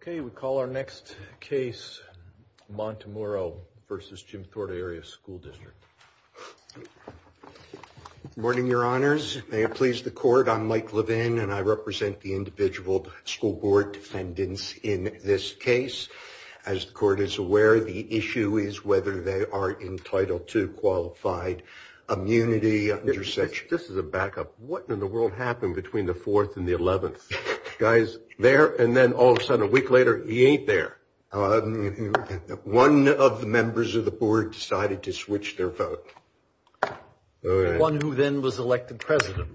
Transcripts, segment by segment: Okay, we call our next case Montemuro v. Jim Thorpe Area School District. Good morning, your honors. May it please the court. I'm Mike Levin, and I represent the individual school board defendants in this case. As the court is aware, the issue is whether they are entitled to qualified immunity. This is a backup. What in the world happened between the 4th and the 11th? The guy's there, and then all of a sudden, a week later, he ain't there. One of the members of the board decided to switch their vote. The one who then was elected president.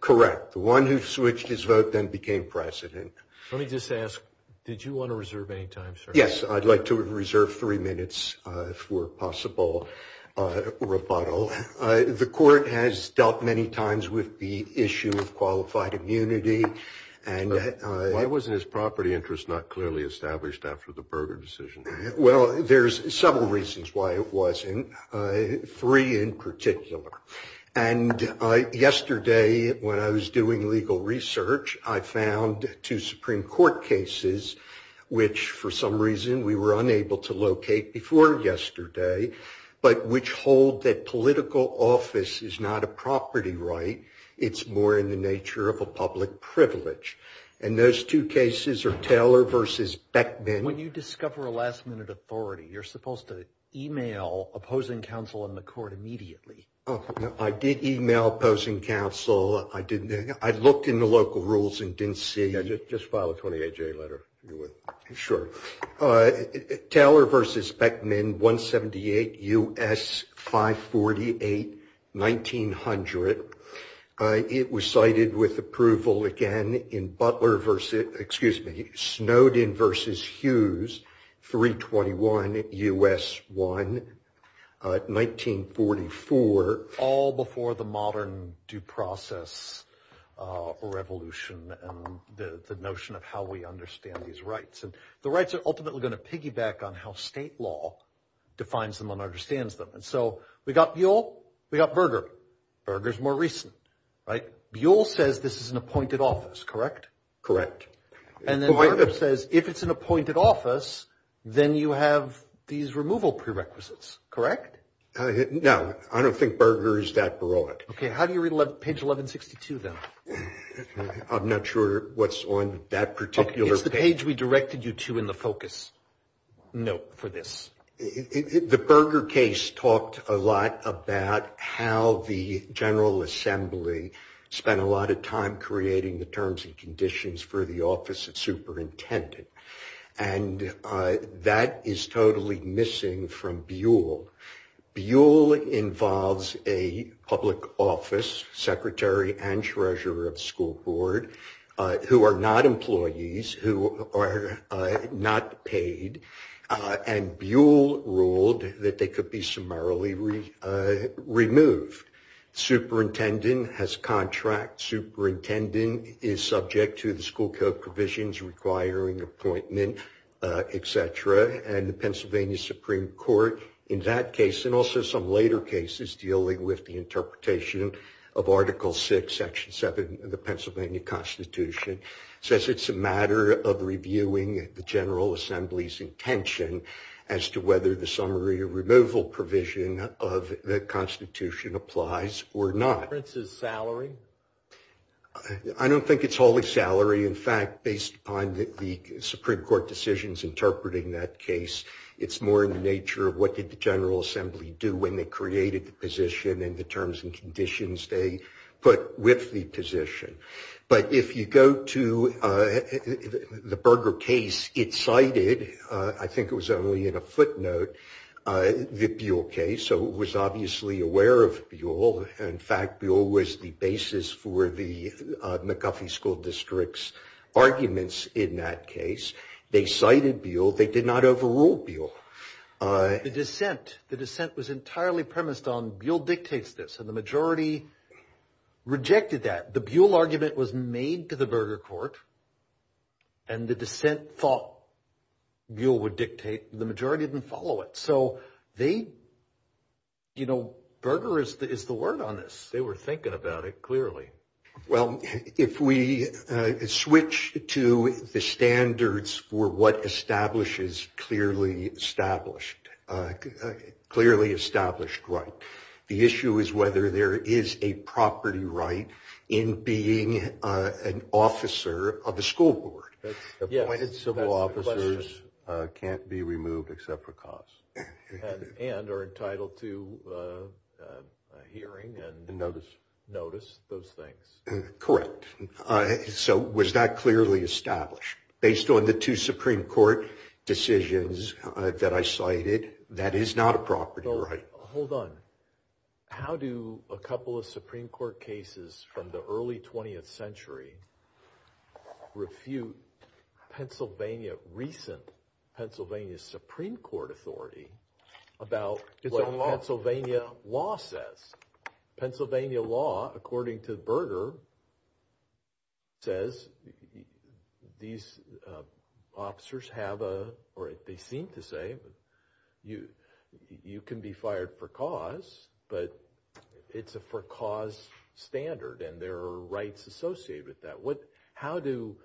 Correct. The one who switched his vote then became president. Let me just ask, did you want to reserve any time, sir? Yes, I'd like to reserve three minutes for possible rebuttal. The court has dealt many times with the issue of qualified immunity. Why wasn't his property interest not clearly established after the Berger decision? Well, there's several reasons why it wasn't. Three in particular. And yesterday when I was doing legal research, I found two Supreme Court cases, which for some reason we were unable to locate before yesterday, but which hold that political office is not a property right. It's more in the nature of a public privilege. And those two cases are Taylor versus Beckman. When you discover a last minute authority, you're supposed to email opposing counsel in the court immediately. I did email opposing counsel. I looked in the local rules and didn't see. Just file a 28-J letter. Sure. Taylor versus Beckman, 178 U.S., 548, 1900. It was cited with approval again in Butler versus, excuse me, Snowden versus Hughes, 321 U.S. 1, 1944. All before the modern due process revolution and the notion of how we understand these rights. And the rights are ultimately going to piggyback on how state law defines them and understands them. And so we got Buell, we got Berger. Berger's more recent, right? Buell says this is an appointed office, correct? Correct. And then Berger says if it's an appointed office, then you have these removal prerequisites, correct? No, I don't think Berger is that broad. Okay, how do you read page 1162 then? I'm not sure what's on that particular page. It's the page we directed you to in the focus note for this. The Berger case talked a lot about how the General Assembly spent a lot of time creating the terms and conditions for the office of superintendent. And that is totally missing from Buell. Buell involves a public office, secretary and treasurer of school board, who are not employees, who are not paid. And Buell ruled that they could be summarily removed. Superintendent has contract. Superintendent is subject to the school code provisions requiring appointment, et cetera. And the Pennsylvania Supreme Court in that case, and also some later cases dealing with the interpretation of Article VI, Section 7 of the Pennsylvania Constitution, says it's a matter of reviewing the General Assembly's intention as to whether the summary removal provision of the Constitution applies or not. Is salary? I don't think it's wholly salary. In fact, based upon the Supreme Court decisions interpreting that case, it's more in the nature of what did the General Assembly do when they created the position and the terms and conditions they put with the position. But if you go to the Berger case, it cited, I think it was only in a footnote, the Buell case. So it was obviously aware of Buell. In fact, Buell was the basis for the McGuffey School District's arguments in that case. They cited Buell. They did not overrule Buell. The dissent, the dissent was entirely premised on Buell dictates this, and the majority rejected that. The Buell argument was made to the Berger court, and the dissent thought Buell would dictate. The majority didn't follow it. So they, you know, Berger is the word on this. They were thinking about it clearly. Well, if we switch to the standards for what establishes clearly established, clearly established right, the issue is whether there is a property right in being an officer of a school board. Yes, that's the question. Appointed civil officers can't be removed except for cause. And are entitled to hearing and notice those things. Correct. So was that clearly established? Based on the two Supreme Court decisions that I cited, that is not a property right. Hold on. How do a couple of Supreme Court cases from the early 20th century refute Pennsylvania, recent Pennsylvania Supreme Court authority about what Pennsylvania law says? Pennsylvania law, according to Berger, says these officers have a, or they seem to say, you can be fired for cause, but it's a for cause standard, and there are rights associated with that. How do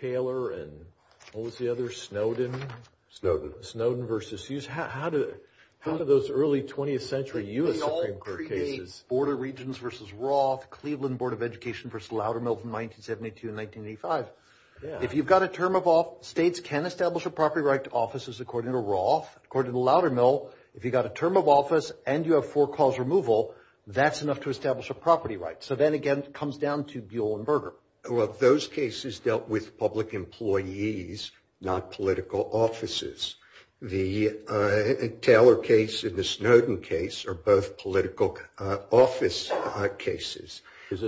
Taylor and, what was the other, Snowden? Snowden. Snowden versus Hughes. How do those early 20th century U.S. Supreme Court cases. They all predate Board of Regents versus Roth, Cleveland Board of Education versus Loudermill from 1972 to 1985. If you've got a term of office, states can establish a property right to offices, according to Roth. According to Loudermill, if you've got a term of office and you have for cause removal, that's enough to establish a property right. So then, again, it comes down to Buell and Berger. Well, those cases dealt with public employees, not political offices. The Taylor case and the Snowden case are both political office cases. Is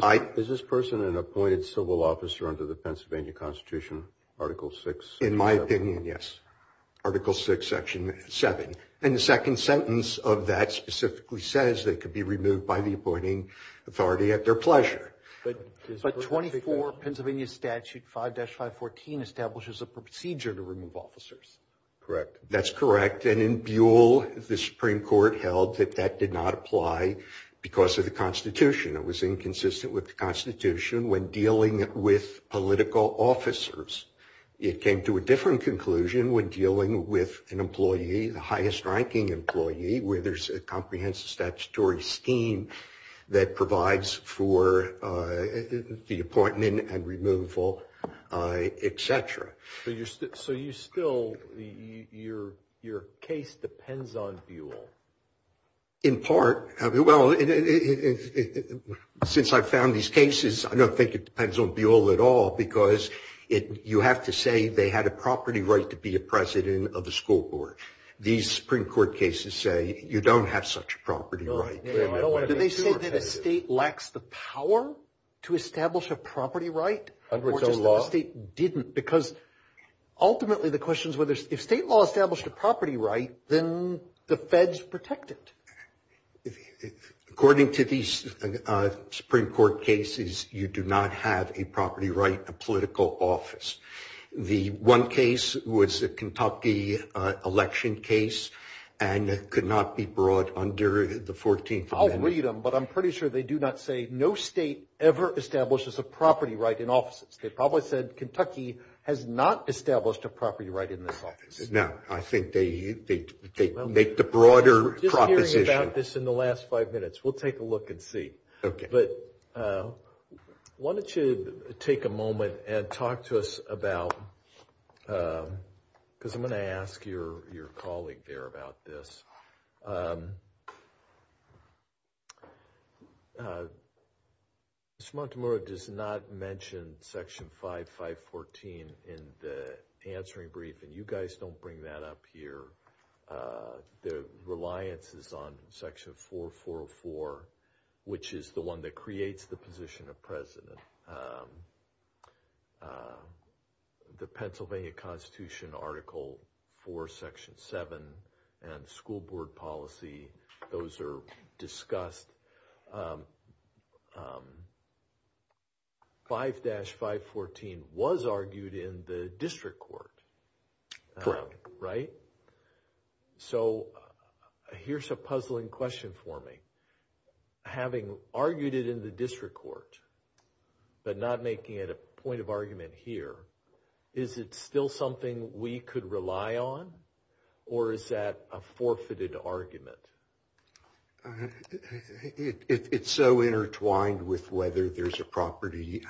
this person an appointed civil officer under the Pennsylvania Constitution, Article VI? In my opinion, yes. Article VI, Section 7. And the second sentence of that specifically says they could be removed by the appointing authority at their pleasure. But 24 Pennsylvania Statute 5-514 establishes a procedure to remove officers. Correct. That's correct. And in Buell, the Supreme Court held that that did not apply because of the Constitution. It was inconsistent with the Constitution when dealing with political officers. It came to a different conclusion when dealing with an employee, the highest-ranking employee, where there's a comprehensive statutory scheme that provides for the appointment and removal, et cetera. So you still, your case depends on Buell? In part. Well, since I found these cases, I don't think it depends on Buell at all, because you have to say they had a property right to be a president of the school board. These Supreme Court cases say you don't have such a property right. Did they say that a state lacks the power to establish a property right? Or just that a state didn't? Because ultimately the question is, if state law established a property right, then the feds protect it. According to these Supreme Court cases, you do not have a property right in a political office. The one case was a Kentucky election case, and it could not be brought under the 14th Amendment. I'll read them, but I'm pretty sure they do not say no state ever establishes a property right in offices. They probably said Kentucky has not established a property right in this office. No, I think they make the broader proposition. We're just hearing about this in the last five minutes. We'll take a look and see. Okay. But why don't you take a moment and talk to us about, because I'm going to ask your colleague there about this. Mr. Montemurro does not mention Section 5514 in the answering brief, and you guys don't bring that up here. The reliance is on Section 444, which is the one that creates the position of president. The Pennsylvania Constitution Article 4, Section 7, and school board policy, those are discussed. 5-514 was argued in the district court. Correct. Right? So here's a puzzling question for me. Having argued it in the district court, but not making it a point of argument here, is it still something we could rely on, or is that a forfeited argument? It's so intertwined with whether there's a property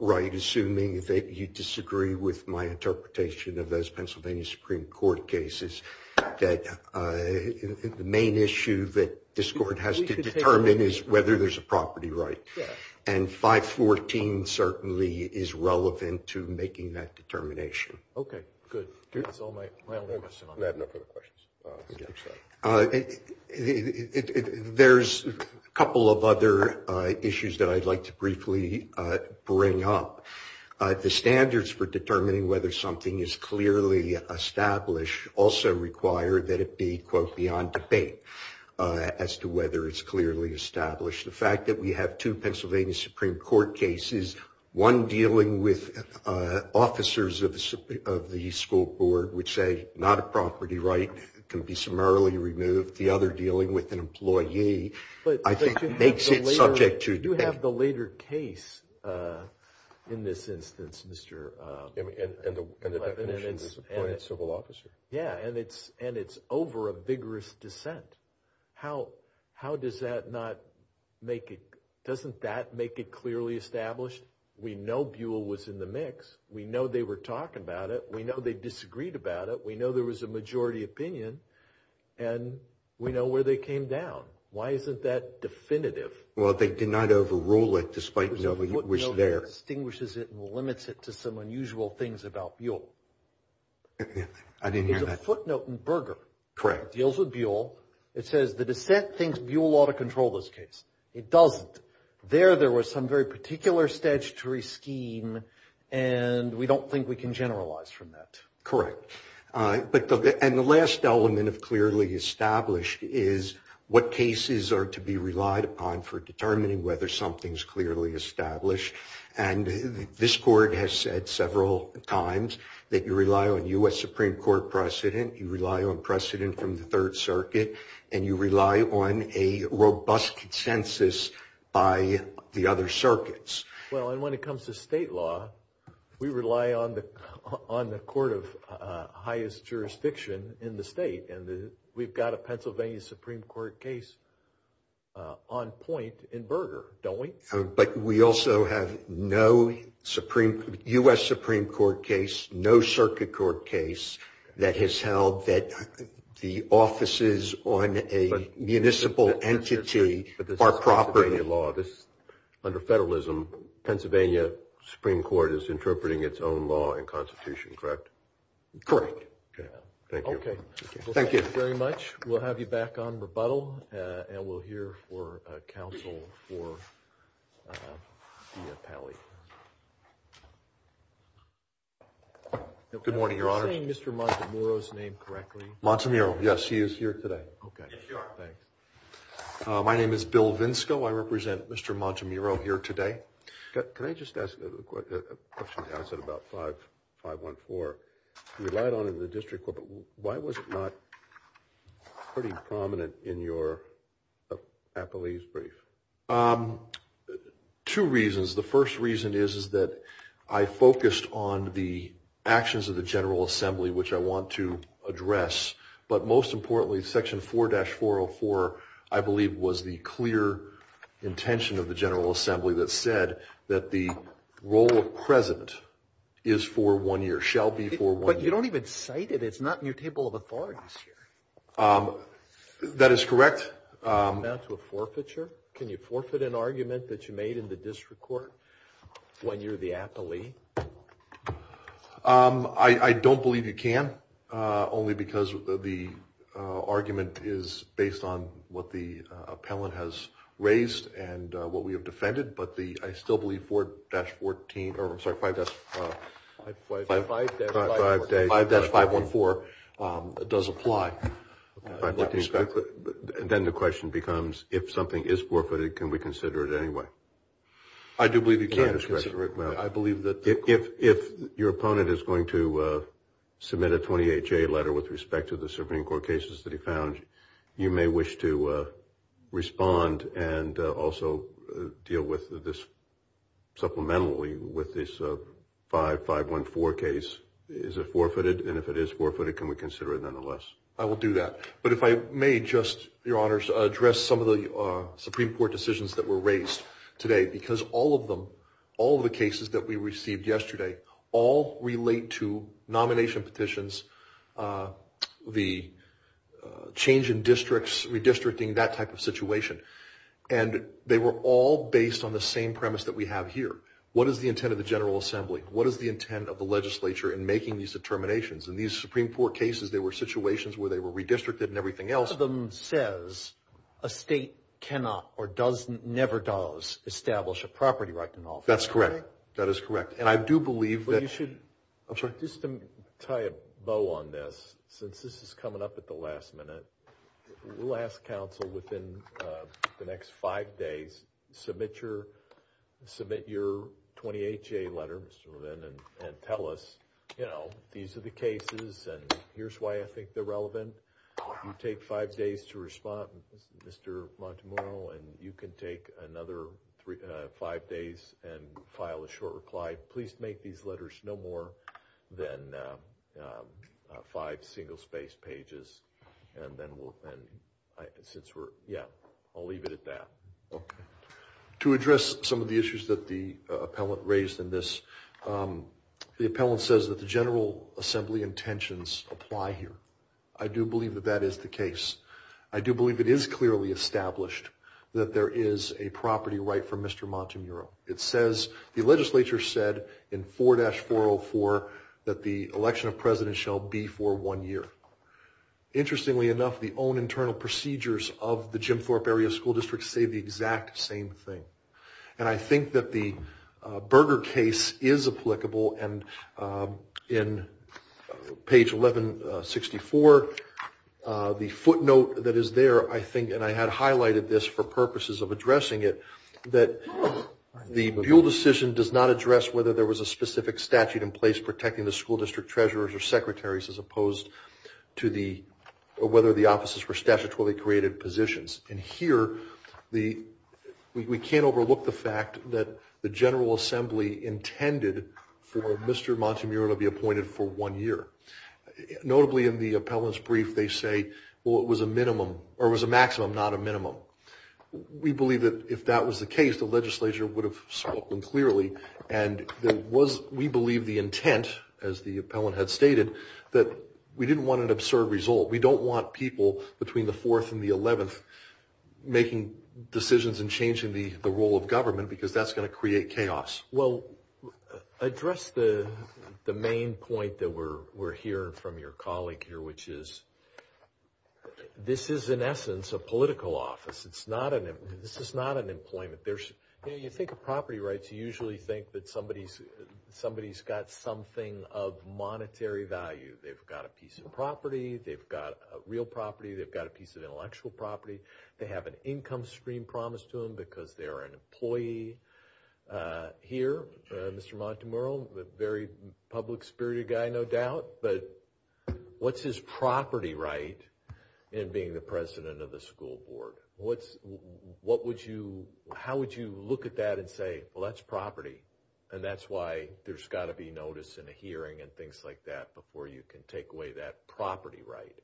right, assuming that you disagree with my interpretation of those Pennsylvania Supreme Court cases, that the main issue that this court has to determine is whether there's a property right. And 514 certainly is relevant to making that determination. Okay, good. That's all my only question on that. I have no further questions. There's a couple of other issues that I'd like to briefly bring up. The standards for determining whether something is clearly established also require that it be, quote, beyond debate as to whether it's clearly established. The fact that we have two Pennsylvania Supreme Court cases, one dealing with officers of the school board, which say not a property right can be summarily removed, with the other dealing with an employee, I think makes it subject to debate. But you have the later case in this instance, Mr. Levin. And the definition is appointed civil officer. Yeah, and it's over a vigorous dissent. How does that not make it, doesn't that make it clearly established? We know Buell was in the mix. We know they were talking about it. We know they disagreed about it. We know there was a majority opinion. And we know where they came down. Why isn't that definitive? Well, they did not overrule it despite knowing it was there. There's a footnote that distinguishes it and limits it to some unusual things about Buell. I didn't hear that. There's a footnote in Berger. Correct. It deals with Buell. It says the dissent thinks Buell ought to control this case. It doesn't. There, there was some very particular statutory scheme, and we don't think we can generalize from that. Correct. And the last element of clearly established is what cases are to be relied upon for determining whether something's clearly established. And this court has said several times that you rely on U.S. Supreme Court precedent. You rely on precedent from the Third Circuit. And you rely on a robust consensus by the other circuits. Well, and when it comes to state law, we rely on the court of highest jurisdiction in the state. And we've got a Pennsylvania Supreme Court case on point in Berger, don't we? But we also have no U.S. Supreme Court case, no circuit court case, that has held that the offices on a municipal entity are proper. Under federalism, Pennsylvania Supreme Court is interpreting its own law and constitution, correct? Correct. Thank you. Okay. Thank you very much. We'll have you back on rebuttal, and we'll hear for counsel for Diapale. Good morning, Your Honor. Am I saying Mr. Montemurro's name correctly? Montemurro, yes. He is here today. Okay. Yes, you are. Thanks. My name is Bill Vinsco. I represent Mr. Montemurro here today. Can I just ask a question? I said about 514. You relied on it in the district court, but why was it not pretty prominent in your Appellee's brief? Two reasons. The first reason is that I focused on the actions of the General Assembly, which I want to address. But most importantly, Section 4-404, I believe, was the clear intention of the General Assembly that said that the role of president is for one year, shall be for one year. But you don't even cite it. It's not in your table of authorities here. That is correct. Is that a forfeiture? Can you forfeit an argument that you made in the district court when you're the appellee? I don't believe you can, only because the argument is based on what the appellant has raised and what we have defended. But I still believe 5-514 does apply. Then the question becomes, if something is forfeited, can we consider it anyway? I do believe you can. If your opponent is going to submit a 28-J letter with respect to the Supreme Court cases that he found, you may wish to respond and also deal with this supplementally with this 5-514 case. Is it forfeited? And if it is forfeited, can we consider it nonetheless? I will do that. But if I may just, Your Honors, address some of the Supreme Court decisions that were raised today. Because all of them, all of the cases that we received yesterday, all relate to nomination petitions, the change in districts, redistricting, that type of situation. And they were all based on the same premise that we have here. What is the intent of the General Assembly? What is the intent of the legislature in making these determinations? In these Supreme Court cases, there were situations where they were redistricted and everything else. One of them says a state cannot or never does establish a property right in office. That's correct. That is correct. And I do believe that... But you should... I'm sorry. Just to tie a bow on this, since this is coming up at the last minute. We'll ask counsel within the next five days, submit your 28-J letter, Mr. Levin, and tell us, you know, these are the cases and here's why I think they're relevant. You take five days to respond, Mr. Montemurro, and you can take another five days and file a short reply. Please make these letters no more than five single-spaced pages, and then we'll... Since we're... Yeah. I'll leave it at that. Okay. To address some of the issues that the appellant raised in this, the appellant says that the General Assembly intentions apply here. I do believe that that is the case. I do believe it is clearly established that there is a property right for Mr. Montemurro. It says the legislature said in 4-404 that the election of president shall be for one year. Interestingly enough, the own internal procedures of the Jim Thorpe Area School District say the exact same thing. And I think that the Berger case is applicable. And in page 1164, the footnote that is there, I think, and I had highlighted this for purposes of addressing it, that the Buol decision does not address whether there was a specific statute in place protecting the school district treasurers or secretaries as opposed to whether the offices were statutorily created positions. And here, we can't overlook the fact that the General Assembly intended for Mr. Montemurro to be appointed for one year. Notably, in the appellant's brief, they say, well, it was a minimum, or it was a maximum, not a minimum. We believe that if that was the case, the legislature would have spoken clearly. And there was, we believe, the intent, as the appellant had stated, that we didn't want an absurd result. We don't want people between the 4th and the 11th making decisions and changing the role of government, because that's going to create chaos. Well, address the main point that we're hearing from your colleague here, which is this is, in essence, a political office. This is not an employment. You think of property rights, you usually think that somebody's got something of monetary value. They've got a piece of property. They've got real property. They've got a piece of intellectual property. They have an income stream promised to them because they're an employee. Here, Mr. Montemurro, a very public-spirited guy, no doubt, but what's his property right in being the president of the school board? What's, what would you, how would you look at that and say, well, that's property, and that's why there's got to be notice and a hearing and things like that before you can take away that property right?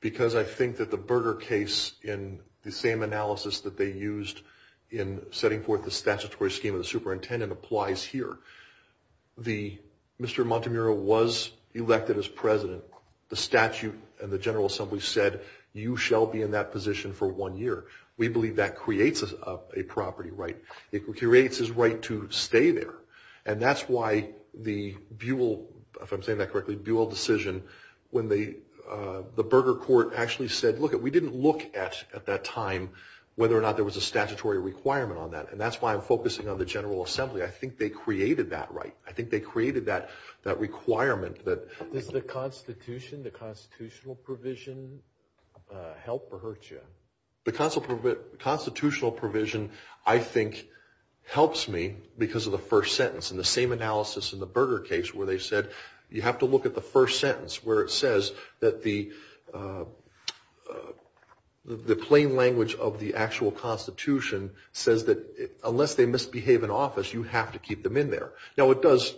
Because I think that the Berger case, in the same analysis that they used in setting forth the statutory scheme of the superintendent, applies here. The, Mr. Montemurro was elected as president. The statute and the General Assembly said you shall be in that position for one year. We believe that creates a property right. It creates his right to stay there, and that's why the Buell, if I'm saying that correctly, Buell decision, when the Berger court actually said, look, we didn't look at, at that time, whether or not there was a statutory requirement on that, and that's why I'm focusing on the General Assembly. I think they created that right. I think they created that requirement. Does the Constitution, the constitutional provision, help or hurt you? The constitutional provision, I think, helps me because of the first sentence. In the same analysis in the Berger case, where they said you have to look at the first sentence, where it says that the plain language of the actual Constitution says that unless they misbehave in office, you have to keep them in there. Now, it does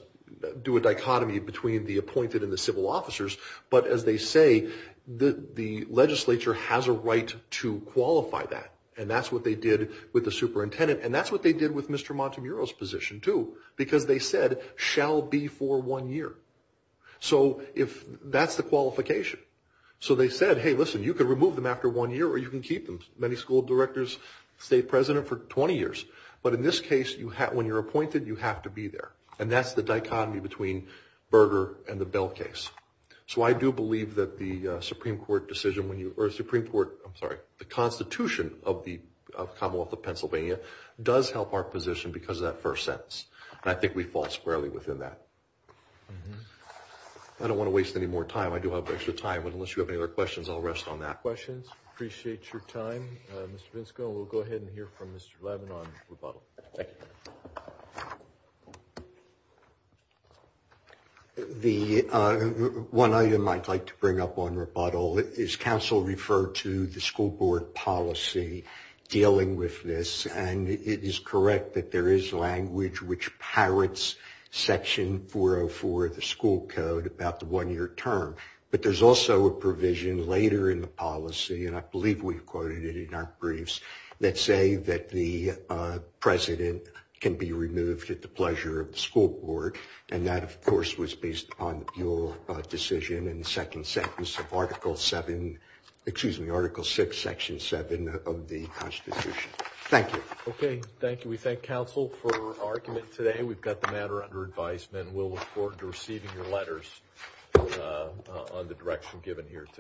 do a dichotomy between the appointed and the civil officers, but as they say, the legislature has a right to qualify that, and that's what they did with the superintendent, and that's what they did with Mr. Montemuro's position, too, because they said shall be for one year. So that's the qualification. So they said, hey, listen, you can remove them after one year or you can keep them, many school directors, state president, for 20 years, but in this case, when you're appointed, you have to be there, and that's the dichotomy between Berger and the Buell case. So I do believe that the Constitution of the Commonwealth of Pennsylvania does help our position because of that first sentence, and I think we fall squarely within that. I don't want to waste any more time. I do have extra time, but unless you have any other questions, I'll rest on that. Questions? Appreciate your time. Mr. Vinsco, we'll go ahead and hear from Mr. Levin on rebuttal. Thank you. One item I'd like to bring up on rebuttal is council referred to the school board policy dealing with this, and it is correct that there is language which parrots Section 404 of the school code about the one-year term, but there's also a provision later in the policy, and I believe we've quoted it in our briefs, that say that the president can be removed at the pleasure of the school board, and that, of course, was based on your decision in the second sentence of Article VI, Section 7 of the Constitution. Thank you. Okay. Thank you. We thank council for argument today. We've got the matter under advisement, and we'll look forward to receiving your letters on the direction given here today.